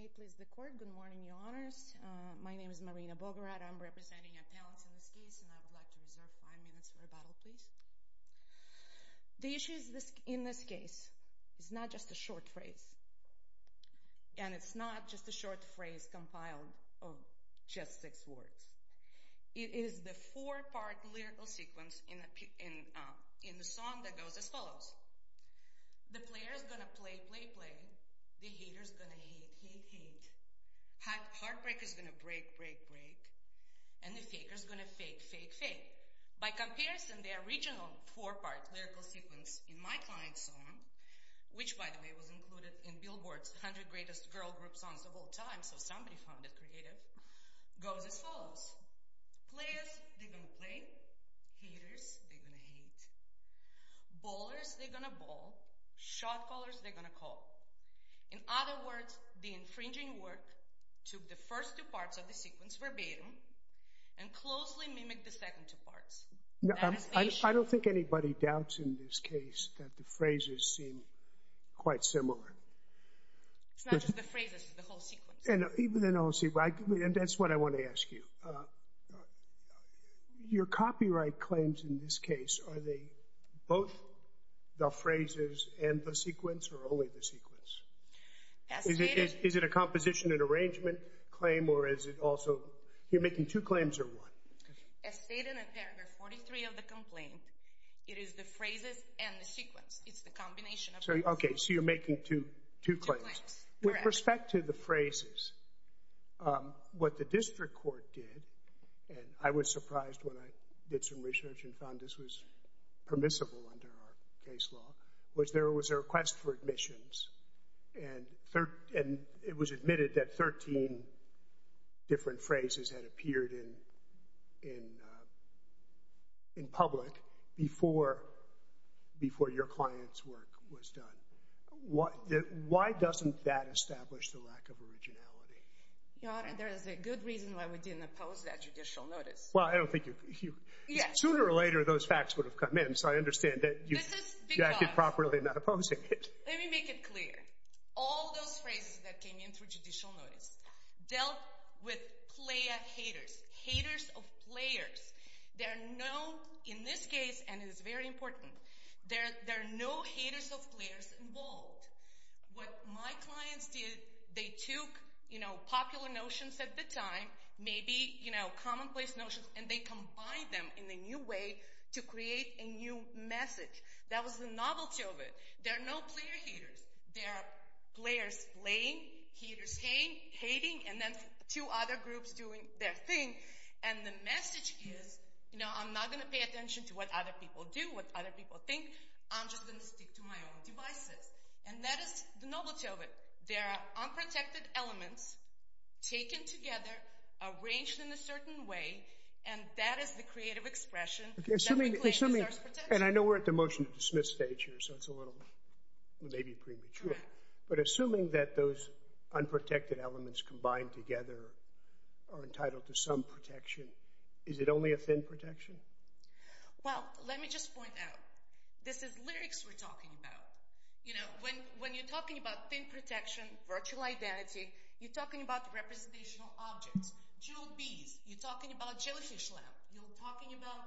May it please the court. Good morning, your honors. My name is Marina Bogoratov. I'm representing appellants in this case, and I would like to reserve five minutes for rebuttal, please. The issue in this case is not just a short phrase, and it's not just a short phrase compiled of just six words. It is the four-part lyrical sequence in the song that goes as follows. The player's gonna play, play, play. The hater's gonna hate, hate, hate. Heartbreak is gonna break, break, break. And the faker's gonna fake, fake, fake. By comparison, the original four-part lyrical sequence in my client's song, which by the way was included in Billboard's 100 Greatest Girl Group Songs of All Time, so somebody found it creative, goes as follows. Players, they're gonna ball. Shot callers, they're gonna call. In other words, the infringing work took the first two parts of the sequence verbatim and closely mimicked the second two parts. I don't think anybody doubts in this case that the phrases seem quite similar. It's not just the phrases, it's the whole sequence. And that's what I want to ask you. Your copyright claims in this case, are they both the phrases and the sequence or only the sequence? Is it a composition and arrangement claim or is it also, you're making two claims or one? As stated in paragraph 43 of the complaint, it is the phrases and the sequence. It's the combination. Okay, so you're making two claims. With respect to the phrases, what the district court did, and I was surprised when I did some case law, was there was a request for admissions and it was admitted that 13 different phrases had appeared in public before your client's work was done. Why doesn't that establish the lack of originality? There is a good reason why we didn't oppose that judicial notice. Well, I don't think you... Sooner or later, those facts would have come in, so I understand that you acted properly not opposing it. Let me make it clear. All those phrases that came in through judicial notice dealt with player haters, haters of players. There are no, in this case, and it's very important, there are no haters of players involved. What my clients did, they took popular notions at the time, maybe commonplace notions, and they combined them in a new way to create a new message. That was the novelty of it. There are no player haters. There are players playing, haters hating, and then two other groups doing their thing. And the message is, you know, I'm not going to pay attention to what other people do, what other people think. I'm just going to stick to my own devices. And that is the novelty of it. There are unprotected elements taken together, arranged in a certain way, and that is the creative expression that we claim deserves protection. And I know we're at the motion to dismiss stage here, so it's a little, maybe premature, but assuming that those unprotected elements combined together are entitled to some protection, is it only a thin protection? Well, let me just point out, this is lyrics we're talking about. You know, when you're talking about thin protection, virtual identity, you're talking about representational objects, jeweled beads, you're talking about jellyfish lamp, you're talking about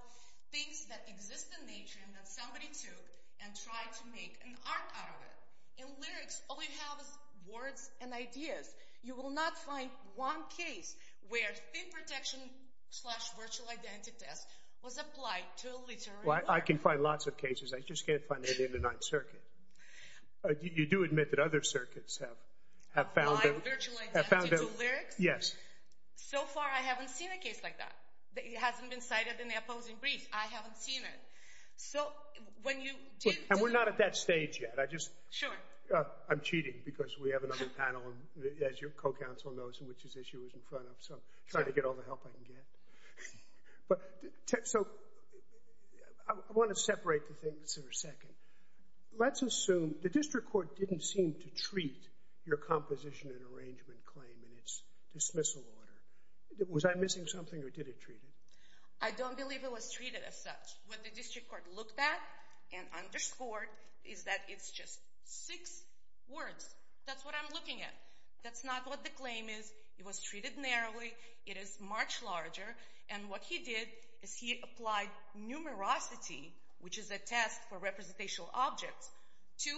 things that exist in nature and that somebody took and tried to make an art out of it. In lyrics, all you have is words and ideas. You will not find one case where thin protection exists. I just can't find it in the Ninth Circuit. You do admit that other circuits have found virtual identity to lyrics? Yes. So far, I haven't seen a case like that. It hasn't been cited in the opposing brief. I haven't seen it. And we're not at that stage yet. Sure. I'm cheating, because we have another panel, as your co-counsel knows, which this issue is in front of, so I'm trying to get all the help I can get. So, I want to separate the things for a second. Let's assume the district court didn't seem to treat your composition and arrangement claim in its dismissal order. Was I missing something or did it treat it? I don't believe it was treated as such. What the district court looked at and underscored is that it's just six words. That's what I'm looking at. That's not what the claim is. It was treated narrowly. It is much larger. And what he did is he applied numerosity, which is a test for representational objects, to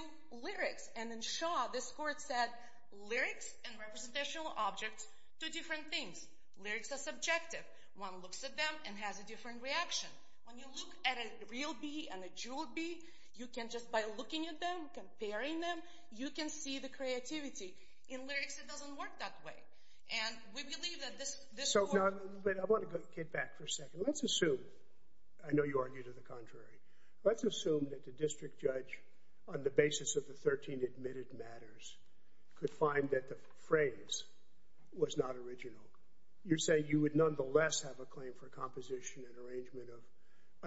lyrics. And in Shaw, this court set lyrics and representational objects to different things. Lyrics are subjective. One looks at them and has a different reaction. When you look at a real bee and a jewel bee, you can just, by looking at them, comparing them, you can see the creativity. In lyrics, it doesn't work that way. And we believe that this court... So, I want to get back for a second. Let's assume, I know you argued to the contrary, let's assume that the district judge, on the basis of the 13 admitted matters, could find that the phrase was not original. You're saying you would nonetheless have a claim for a composition and arrangement of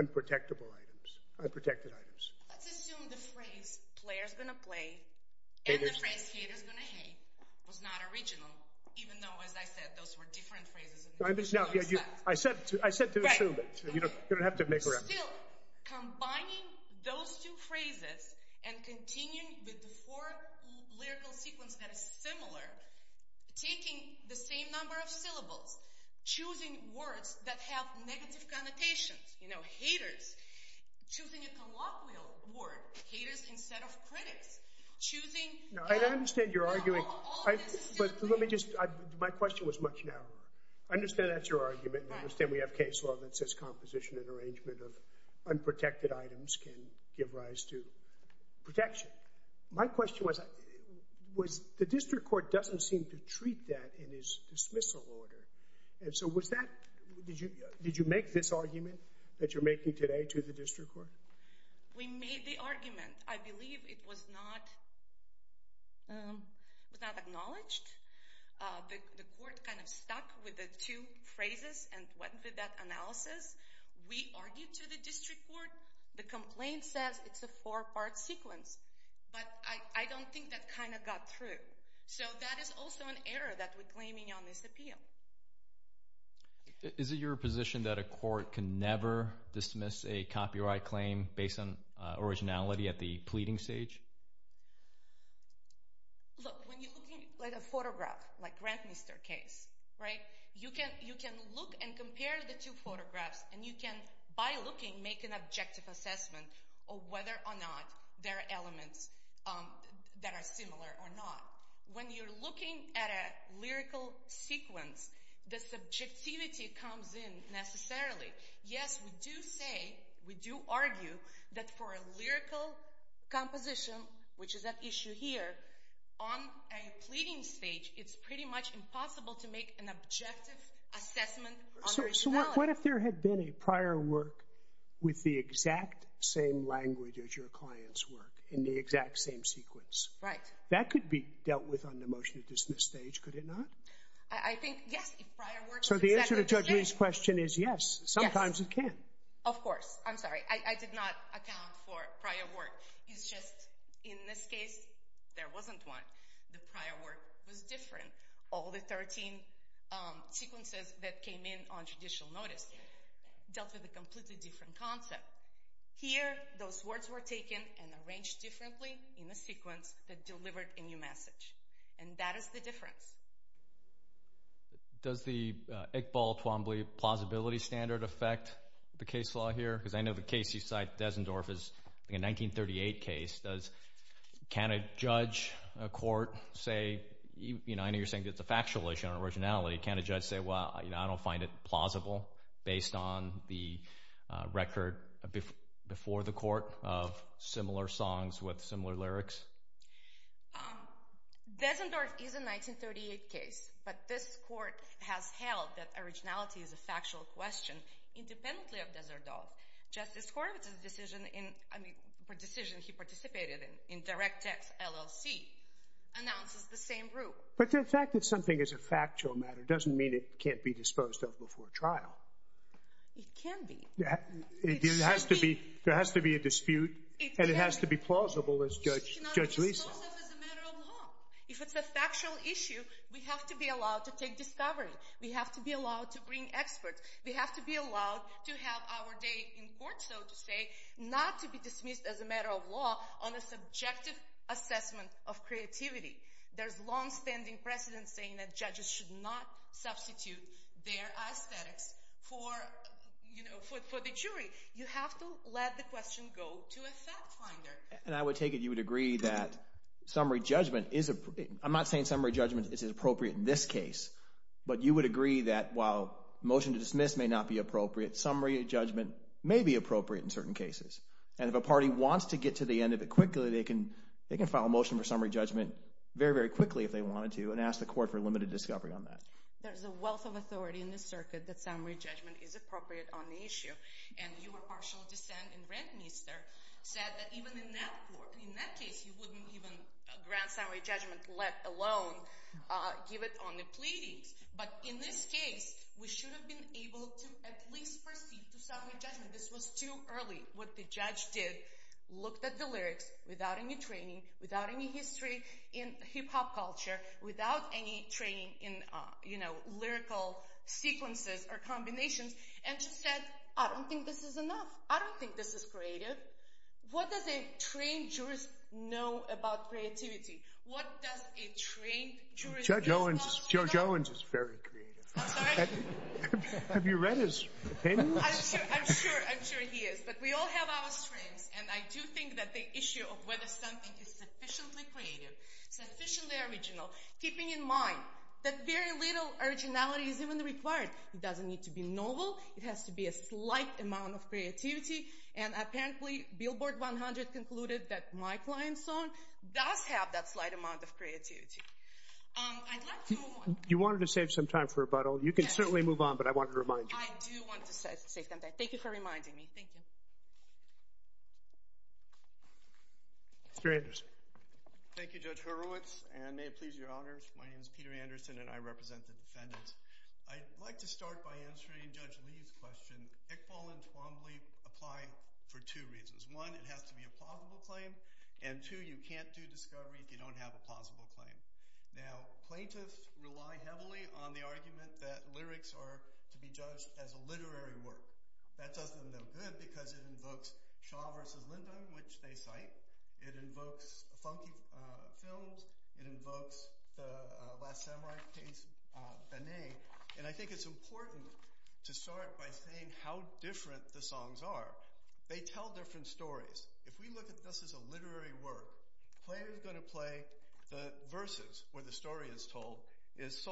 unprotectable items, unprotected items. Let's assume the phrase, player's going to play, and the phrase, hater's going to hate, was not original, even though, as I said, those were different phrases. I said to assume it. You don't have to make... Still, combining those two phrases and continuing with the four lyrical sequence that is similar, taking the same number of syllables, choosing words that have negative connotations, you know, haters, choosing a colloquial word, haters instead of critics, choosing... No, I understand you're arguing... But let me just... My question was much narrower. I understand that's your argument. I understand we have case law that says composition and arrangement of unprotected items can give rise to protection. My question was, the district court doesn't seem to treat that in its dismissal order. And so was that... Did you make this argument that you're making today to the district court? We made the argument. I believe it was not acknowledged. The court kind of stuck with the two phrases and went with that analysis. We argued to the district court. The complaint says it's a four-part sequence, but I don't think that kind of got through. So that is also an error that we're claiming on this appeal. Is it your position that a court can never dismiss a copyright claim based on originality at the pleading stage? Look, when you're looking at a photograph, like Grant Mister case, right, you can look and compare the two photographs and you can, by looking, make an objective assessment of whether or not there are elements that are similar or not. When you're looking at a lyrical sequence, the subjectivity comes in necessarily. Yes, we do say, we do argue, that for a lyrical composition, which is at issue here, on a pleading stage, it's pretty much impossible to make an objective assessment of originality. So what if there had been a prior work with the exact same language as your client's work, in the exact same sequence? Right. That could be the stage, could it not? I think, yes, if prior work was exactly the same. So the answer to Judge Lee's question is yes, sometimes it can. Of course. I'm sorry. I did not account for prior work. It's just, in this case, there wasn't one. The prior work was different. All the 13 sequences that came in on judicial notice dealt with a completely different concept. Here, those words were taken and arranged differently in the sequence that delivered a new message. And that is the difference. Does the Iqbal Twombly plausibility standard affect the case law here? Because I know the case you cite, Dessendorf, is a 1938 case. Can a judge, a court, say, you know, I know you're saying it's a factual issue on originality. Can a judge say, well, you know, I don't find it plausible based on the record before the court of similar songs with similar lyrics? Dessendorf is a 1938 case, but this court has held that originality is a factual question independently of Desserdorf. Justice Horowitz's decision in, I mean, the decision he participated in, in DirectX LLC, announces the same rule. But the fact that something is a factual matter doesn't mean it can't be disposed of before trial. It can be. There has to be a dispute, and it has to be plausible as Judge Lisa. It cannot be disposed of as a matter of law. If it's a factual issue, we have to be allowed to take discovery. We have to be allowed to bring experts. We have to be allowed to have our day in court, so to say, not to be dismissed as a matter of law on a subjective assessment of creativity. There's longstanding precedent saying that judges should not substitute their aesthetics for, you know, for the jury. You have to let the question go to a fact finder. And I would take it you would agree that summary judgment is, I'm not saying summary judgment is appropriate in this case, but you would agree that while motion to dismiss may not be appropriate, summary judgment may be appropriate in certain cases. And if a party wants to get to the end of it quickly, they can file a motion for summary judgment very, quickly if they wanted to, and ask the court for limited discovery on that. There's a wealth of authority in this circuit that summary judgment is appropriate on the issue, and your partial dissent in Rentmeester said that even in that case, you wouldn't even grant summary judgment let alone give it on the pleadings. But in this case, we should have been able to at least proceed to summary judgment. This was too early. What the judge did, looked at the lyrics without any training, without any history in hip-hop culture, without any training in, you know, lyrical sequences or combinations, and she said, I don't think this is enough. I don't think this is creative. What does a trained jurist know about creativity? What does a trained jurist know? Judge Owens is very creative. I'm sorry? I do think that the issue of whether something is sufficiently creative, sufficiently original, keeping in mind that very little originality is even required. It doesn't need to be novel. It has to be a slight amount of creativity. And apparently, Billboard 100 concluded that my client's song does have that slight amount of creativity. I'd like to move on. You wanted to save some time for rebuttal. You can certainly move on, but I wanted to remind you. I do want to save some time. Thank you for reminding me. Thank you. Mr. Anderson. Thank you, Judge Horowitz, and may it please your honors. My name is Peter Anderson, and I represent the defendants. I'd like to start by answering Judge Lee's question. Iqbal and Twombly apply for two reasons. One, it has to be a plausible claim, and two, you can't do discovery if you don't have a plausible claim. Now, plaintiffs rely heavily on the argument that lyrics are to be judged as a literary work. That doesn't look good because it invokes Shaw versus Lyndon, which they cite. It invokes funky films. It invokes the Last Samurai case, Benet. And I think it's important to start by saying how different the songs are. They tell different stories. If we look at this as a literary work, the player is going to play the verses where the story is told. It's a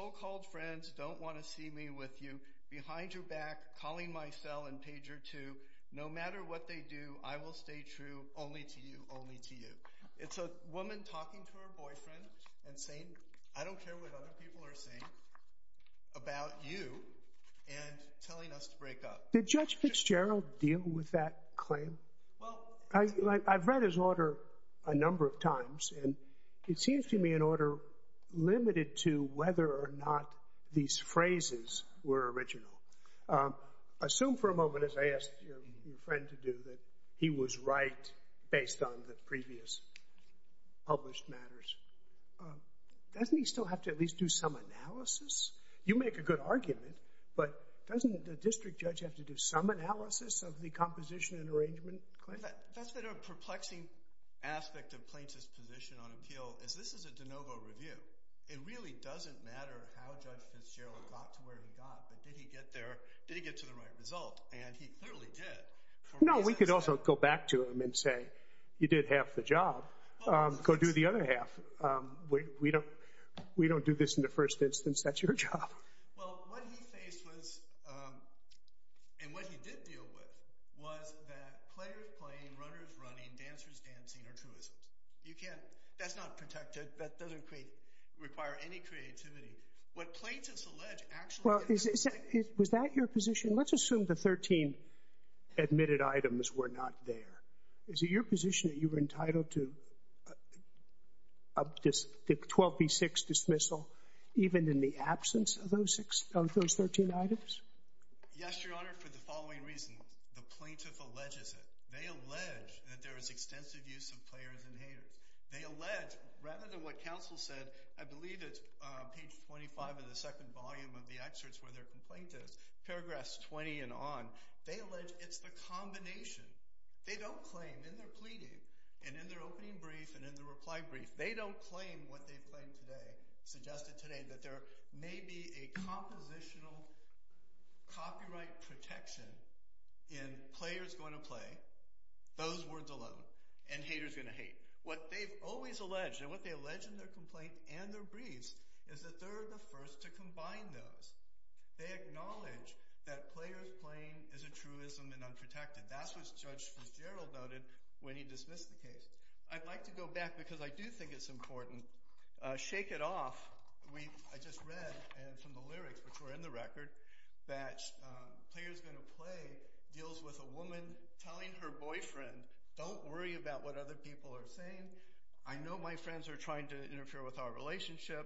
woman talking to her boyfriend and saying, I don't care what other people are saying about you, and telling us to break up. Did Judge Fitzgerald deal with that claim? I've read his order a number of times, and it seems to me an order limited to whether or not these phrases were original. Assume for a moment, as I asked your friend to do, that he was right based on the previous published matters. Doesn't he still have to at least do some analysis? You make a good argument, but doesn't the district judge have to do some analysis of the composition and arrangement? That's been a perplexing aspect of Plaintiff's position on appeal, is this is a de novo review. It really doesn't matter how Judge Fitzgerald got to where he got, but did he get there? Did he get to the right result? And he clearly did. No, we could also go back to him and say, you did half the job. Go do the other half. We don't do this in the first instance. That's your job. Well, what he faced was, and what he did deal with, was that players playing, runners running, dancers dancing are truisms. You can't, that's not protected. That doesn't require any creativity. What Plaintiffs allege actually- Was that your position? Let's assume the 13 admitted items were not there. Is it your position? Yes, Your Honor, for the following reasons. The Plaintiff alleges it. They allege that there is extensive use of players and haters. They allege, rather than what counsel said, I believe it's page 25 of the second volume of the excerpts where their complaint is, paragraphs 20 and on, they allege it's the combination. They don't claim in their pleading and in their opening brief and in the reply brief, they don't claim what they've claimed today, suggested today, that there may be a compositional copyright protection in players going to play, those words alone, and haters going to hate. What they've always alleged, and what they allege in their complaint and their briefs, is that they're the first to combine those. They acknowledge that players playing is a truism and unprotected. That's what Judge Fitzgerald noted when he dismissed the case. I'd like to go back, because I do think it's important. Shake It Off, I just read from the lyrics, which were in the record, that players going to play deals with a woman telling her boyfriend, don't worry about what other people are saying. I know my friends are trying to interfere with our relationship.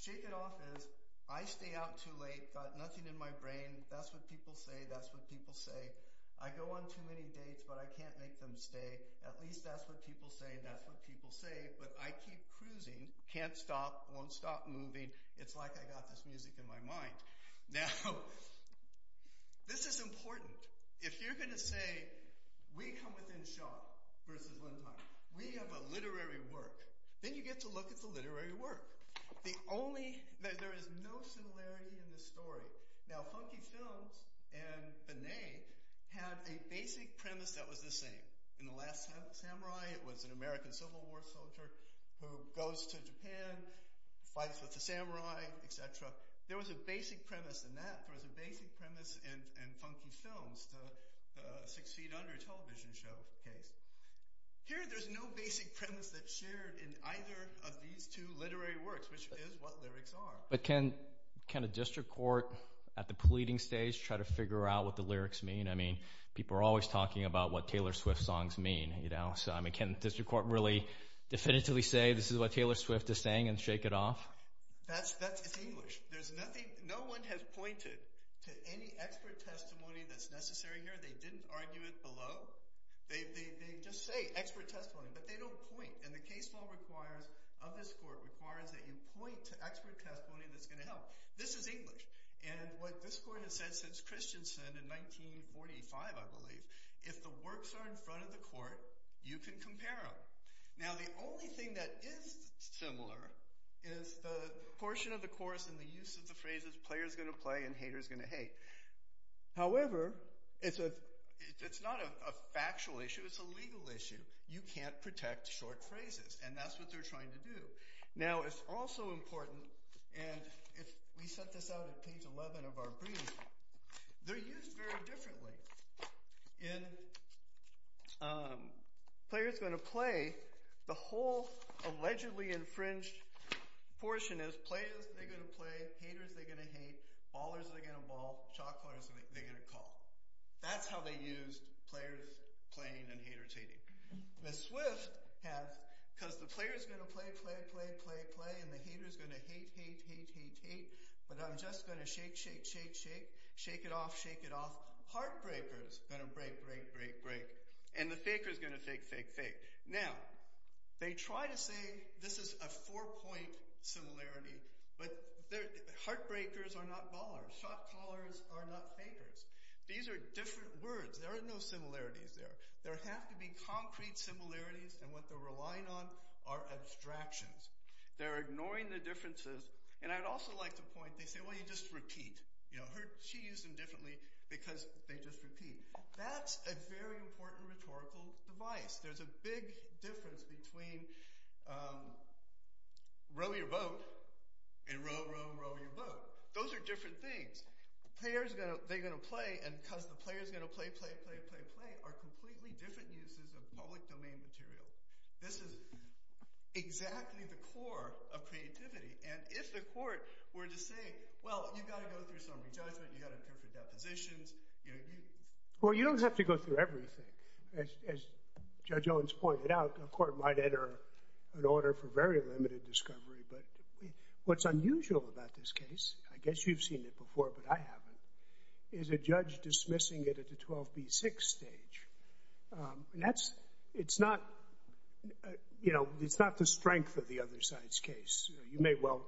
Shake It Off is, I stay out too late, got nothing in my brain. That's what people say, that's what people say. I go on too many dates, but I can't make them stay. At least that's what people say, that's what people say. But I keep cruising, can't stop, won't stop moving, it's like I got this music in my mind. Now, this is important. If you're going to say, we come within shot versus one time, we have a literary work, then you get to look at the literary work. There is no similarity in the story. Now, Funky Films and Benet had a basic premise that was the same. In The Last Samurai, it was an American Civil War soldier who goes to Japan, fights with the samurai, et cetera. There was a basic premise in that, there was a basic premise in Funky Films, the Six Feet Under television show case. Here, there's no basic premise that's shared in either of these two literary works, which is what lyrics are. But can a district court at the pleading stage try to figure out what the lyrics mean? I mean, people are always talking about what Taylor Swift songs mean. I mean, can a district court really definitively say this is what Taylor Swift is saying and shake it off? It's English. No one has pointed to any expert testimony that's necessary here. They didn't argue it below. They just say expert testimony, but they don't point. And the case law of this court requires that you point to expert testimony that's going to help. This is English. And what this court has said since Christensen in 1945, I believe, if the works are in front of the court, you can compare them. Now, the only thing that is similar is the portion of the course and the use of the phrases, player's going to play and hater's going to hate. However, it's not a factual issue. It's a legal issue. You can't protect short phrases, and that's what they're trying to do. Now, it's also of our briefs. They're used very differently. In player's going to play, the whole allegedly infringed portion is player's going to play, hater's going to hate, baller's going to ball, chalker's going to call. That's how they used player's playing and hater's hating. Ms. Swift has, because the player's going to play, play, play, play, play, and the hater's going to shake, shake, shake, shake, shake it off, shake it off. Heartbreaker's going to break, break, break, break, and the faker's going to fake, fake, fake. Now, they try to say this is a four-point similarity, but heartbreakers are not ballers. Shotcallers are not fakers. These are different words. There are no similarities there. There have to be concrete similarities, and what they're relying on are abstractions. They're ignoring the differences, and I'd also like to point, they say, well, you just repeat. She used them differently because they just repeat. That's a very important rhetorical device. There's a big difference between row your boat and row, row, row your boat. Those are different things. Player's going to, they're going to play, and because the player's going to play, play, play, play, play are completely different uses of public domain material. This is exactly the core of creativity, and if the court were to say, well, you've got to go through some re-judgment. You've got to go through depositions. Well, you don't have to go through everything. As Judge Owens pointed out, a court might enter an order for very limited discovery, but what's unusual about this case, I guess you've seen it before, but I haven't, is a judge dismissing it at the 12B6 stage. It's not a, you know, it's not the strength of the other side's case. You may well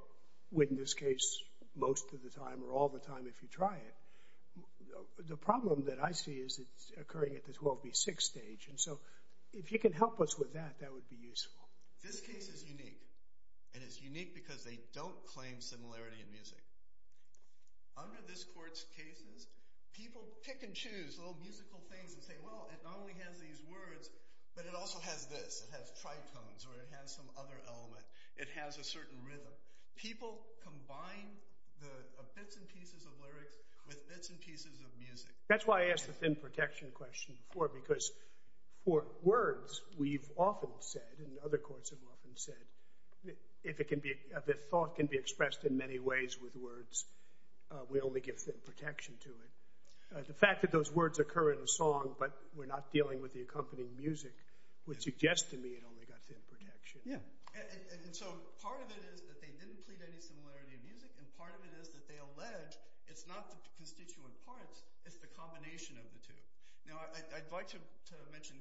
win this case most of the time or all the time if you try it. The problem that I see is it's occurring at the 12B6 stage, and so if you can help us with that, that would be useful. This case is unique, and it's unique because they don't claim similarity in music. Under this court's cases, people pick and choose little musical things and say, well, it not only has these words, but it also has this. It has tritones, or it has some other element. It has a certain rhythm. People combine the bits and pieces of lyrics with bits and pieces of music. That's why I asked the thin protection question before, because for words, we've often said, and other courts have often said, if it can be, if thought can be expressed in many ways with words, we only give thin protection to it. The fact that those words occur in a song, but we're not dealing with the accompanying music, would suggest to me it only got thin protection. Yeah, and so part of it is that they didn't plead any similarity in music, and part of it is that they allege it's not the constituent parts, it's the combination of the two. Now, I'd like to mention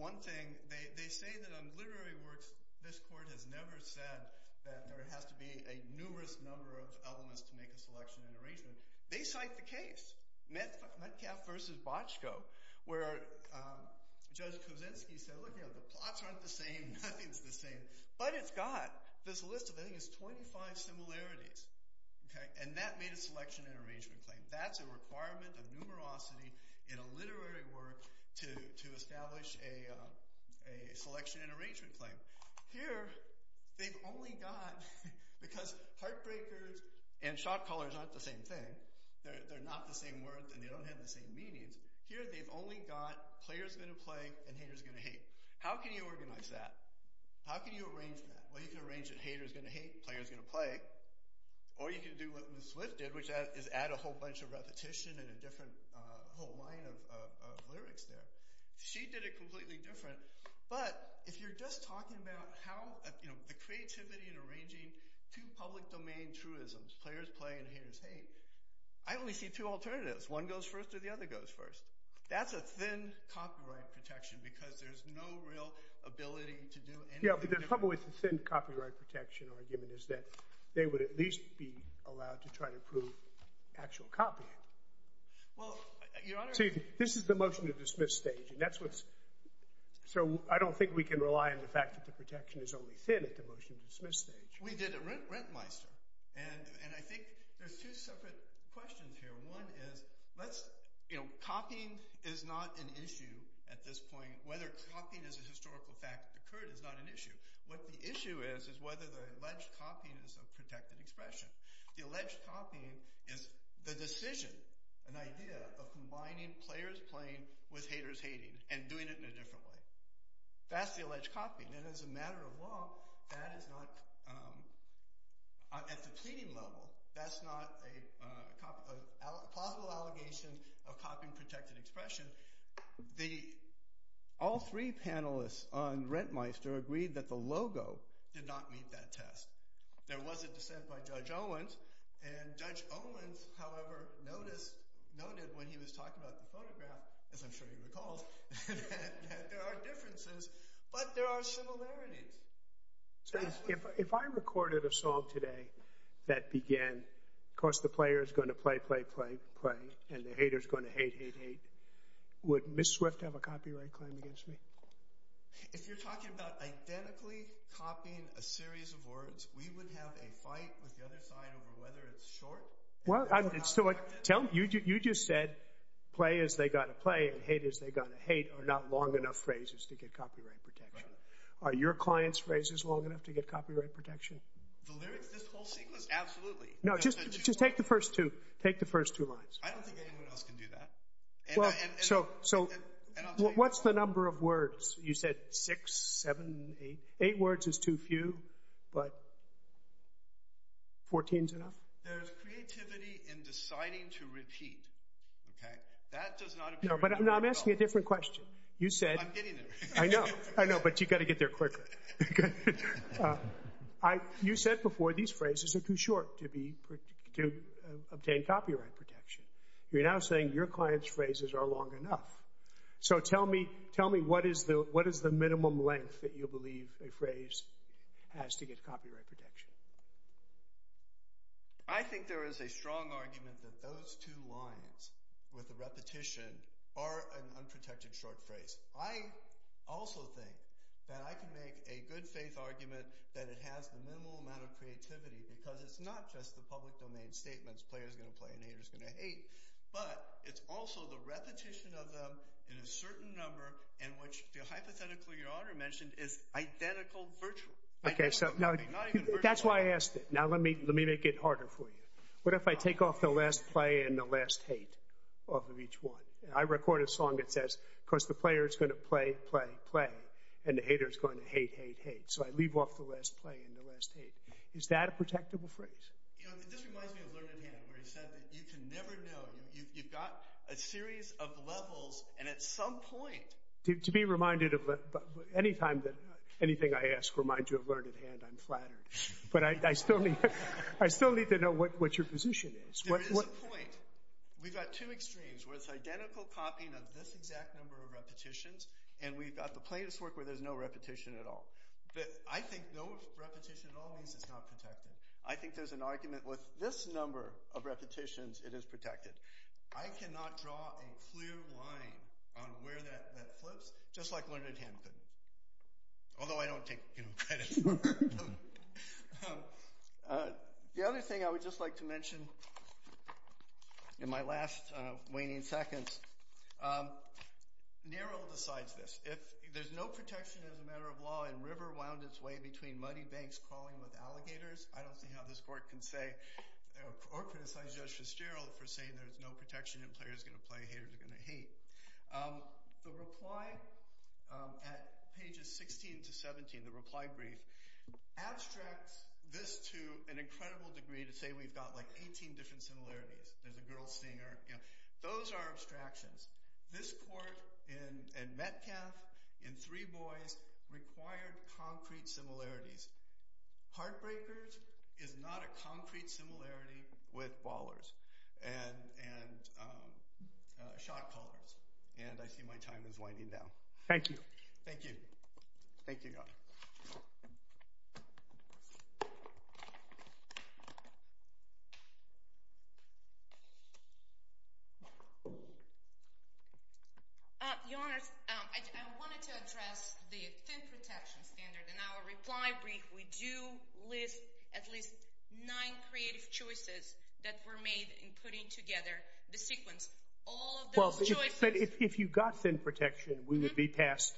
one thing. They say that on literary works, this court has never said that there has to be a numerous number of elements to make a selection and arrangement. They cite the case, Metcalf versus Bochco, where Judge Kuczynski said, look, you know, the plots aren't the same, nothing's the same, but it's got this list of, I think it's 25 similarities, and that made a selection and arrangement claim. That's a requirement of numerosity in a literary work to establish a selection and arrangement claim. Here, they've only got, because heartbreakers and shot callers aren't the same thing, they're not the same words, and they don't have the same meanings, here they've only got player's gonna play and hater's gonna hate. How can you organize that? How can you arrange that? Well, you can arrange that hater's gonna hate, player's gonna play, or you can do what Liz Swift did, which is add a whole bunch of repetition and a different whole line of lyrics there. She did it completely different, but if you're just talking about how, you know, the creativity in arranging two public domain truisms, player's play and hater's hate, I only see two alternatives, one goes first or the other goes first. That's a thin copyright protection, because there's no real ability to do anything different. Yeah, the trouble with the thin copyright protection argument is that they would at least be allowed to try to prove actual copying. Well, your honor- See, this is the motion to dismiss stage, and that's what's, so I don't think we can rely on the fact that the protection is only thin at the motion to dismiss stage. We did at Rentmeister, and I think there's two separate questions here. One is, let's, you know, copying is not an issue at this point, whether copying is a historical fact that occurred is not an issue. What the issue is, is whether the alleged copying is a protected expression. The alleged copying is the decision, an idea, of combining player's playing with hater's hating, and doing it in a different way. That's the alleged copying, and as a matter of law, that is not, at the pleading level, that's not a plausible allegation of copying protected expression. All three panelists on Rentmeister agreed that the logo did not meet that test. There was a dissent by Judge Owens, and Judge Owens, however, noticed, noted when he was talking about the photograph, as I'm sure you recall, that there are differences, but there are similarities. So if I recorded a song today that began, of course the player is going to play, play, play, play, and the hater's going to hate, hate, hate, would Ms. Swift have a copyright claim against me? If you're talking about identically copying a series of words, we would have a fight with the other side over whether it's short. Well, tell me, you just said, play is they got to play, and hate is they got to hate, are not long enough phrases to get copyright protection. Are your client's phrases long enough to get copyright protection? The lyrics, this whole sequence, absolutely. No, just take the first two, take the first two lines. I don't think anyone else can do that. So what's the number of words? You said six, seven, eight. Eight words is too few, but 14's enough? There's creativity in deciding to repeat, okay? That does not appear in the photograph. No, I'm asking a different question. I'm getting there. I know, I know, but you got to get there quicker. You said before these phrases are too short to obtain copyright protection. You're now saying your client's phrases are long enough. So tell me, what is the minimum length that you believe a phrase has to get copyright protection? I think there is a strong argument that those two lines with the repetition are an unprotected short phrase. I also think that I can make a good faith argument that it has the minimal amount of creativity, because it's not just the public domain statements, player's going to play and hater's going to hate, but it's also the repetition of them in a certain number in which the hypothetical your honor mentioned is identical virtual. Okay, so that's why I asked it. Now let me make it harder for you. What if I take off the last play and the last hate off of each one? I record a song that says, of course the player's going to play, play, play, and the hater's going to hate, hate, hate. So I leave off the last play and the last hate. Is that a protectable phrase? You know, this reminds me of Learned Hand, where he said that you can never know. You've got a series of levels, and at some point... To be reminded of... Any time that anything I ask reminds you of Learned Hand, I'm flattered. But I still need to know what your position is. There is a point. We've got two extremes, where it's identical copying of this exact number of repetitions, and we've got the plaintiff's work where there's no repetition at all. But I think no repetition at all means it's not protected. I think there's an argument with this number of repetitions, it is protected. I cannot draw a clear line on where that flips, just like Learned Hand could. Although I don't take, you know, credit for learning. The other thing I would just like to mention in my last waning seconds... Nehru decides this. If there's no protection as a matter of law, and river wound its way between muddy banks crawling with alligators, I don't see how this court can say, or criticize Judge Fitzgerald for saying there's no protection, and players are going to play, haters are going to hate. The reply at pages 16 to 17, the reply brief, abstracts this to an incredible degree, to say we've got like 18 different similarities. There's a girl singing, you know. Those are abstractions. This court in Metcalfe, in Three Boys, required concrete similarities. Heartbreakers is not a concrete similarity with ballers and shot callers. And I see my time is winding down. Thank you. Thank you. Thank you, Your Honor. Your Honor, I wanted to address the thin protection standard. In our reply brief, we do list at least nine creative choices that were made in putting together the sequence. All of those choices... But if you got thin protection, we would be past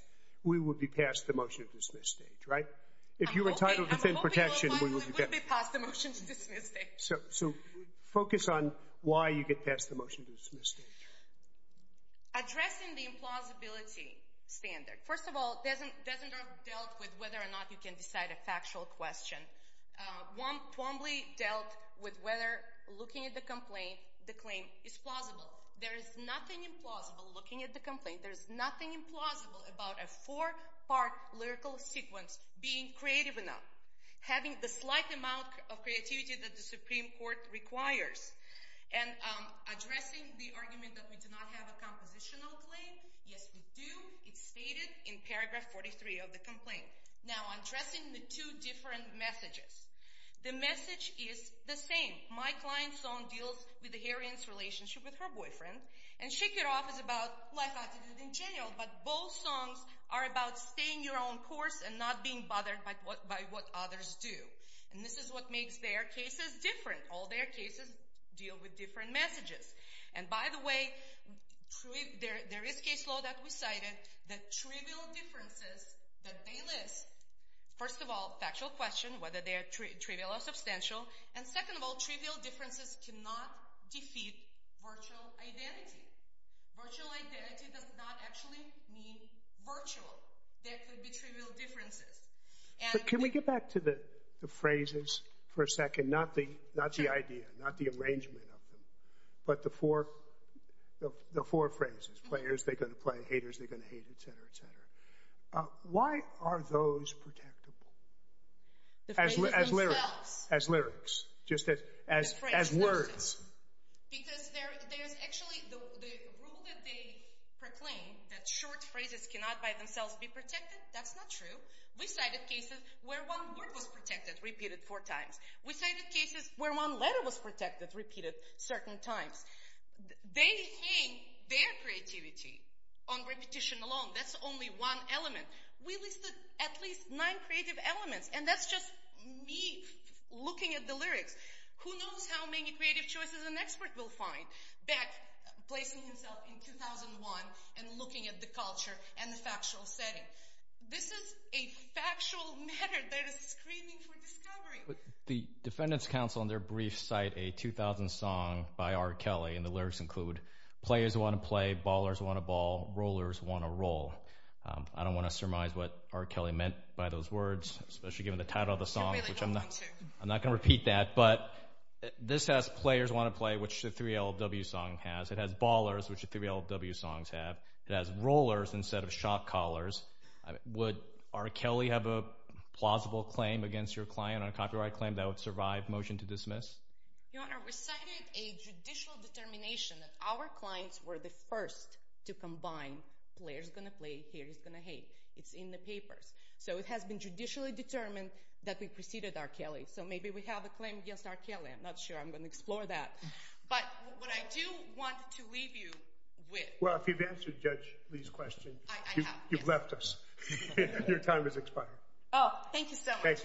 the motion to dismiss stage, right? If you were entitled to thin protection... I'm hoping we would be past the motion to dismiss stage. So focus on why you get past the motion to dismiss stage. Addressing the implausibility standard. First of all, it doesn't are dealt with whether or not you can decide a factual question. One formally dealt with whether looking at the complaint, the claim is plausible. There is nothing implausible looking at the complaint. There's nothing implausible about a four-part lyrical sequence being creative enough, having the slight amount of creativity that the Supreme Court requires. And addressing the argument that we do not have a compositional claim. Yes, we do. It's stated in paragraph 43 of the complaint. Now, addressing the two different messages. The message is the same. My client's son deals with the Aryan's relationship with her boyfriend. And Shake It Off is about life after the jail. But both songs are about staying your own course and not being bothered by what others do. And this is what makes their cases different. All their cases deal with different messages. And by the way, there is case law that we cited that trivial differences that they list. First of all, factual question, whether they are trivial or substantial. And second of all, trivial differences cannot defeat virtual identity. Virtual identity does not actually mean virtual. There could be trivial differences. But can we get back to the phrases for a second? Not the idea, not the arrangement of them. But the four phrases. Players, they're going to play. Haters, they're going to hate. Et cetera, et cetera. Why are those protectable? As lyrics. Just as words. Because there's actually the rule that they proclaim that short phrases cannot by themselves be protected. That's not true. We cited cases where one word was protected, repeated four times. We cited cases where one letter was protected, repeated certain times. They hang their creativity on repetition alone. That's only one element. We listed at least nine creative elements. And that's just me looking at the lyrics. Who knows how many creative choices an expert will find back, placing himself in 2001 and looking at the culture and the factual setting. This is a factual matter that is screaming for discovery. The defendant's counsel in their brief cite a 2000 song by R. Kelly, and the lyrics include players want to play, ballers want to ball, rollers want to roll. I don't want to surmise what R. Kelly meant by those words, especially given the title of the song, which I'm not going to repeat that. But this has players want to play, which the 3LW song has. It has ballers, which the 3LW songs have. It has rollers instead of shock collars. Would R. Kelly have a plausible claim against your client on a copyright claim that would survive? Motion to dismiss. Your Honor, we cited a judicial determination that our clients were the first to combine players going to play, haters going to hate. It's in the papers. So it has been judicially determined that we preceded R. Kelly. So maybe we have a claim against R. Kelly. I'm not sure. I'm going to explore that. But what I do want to leave you with. If you've answered Judge Lee's question, you've left us. Your time has expired. Oh, thank you so much. Thank you.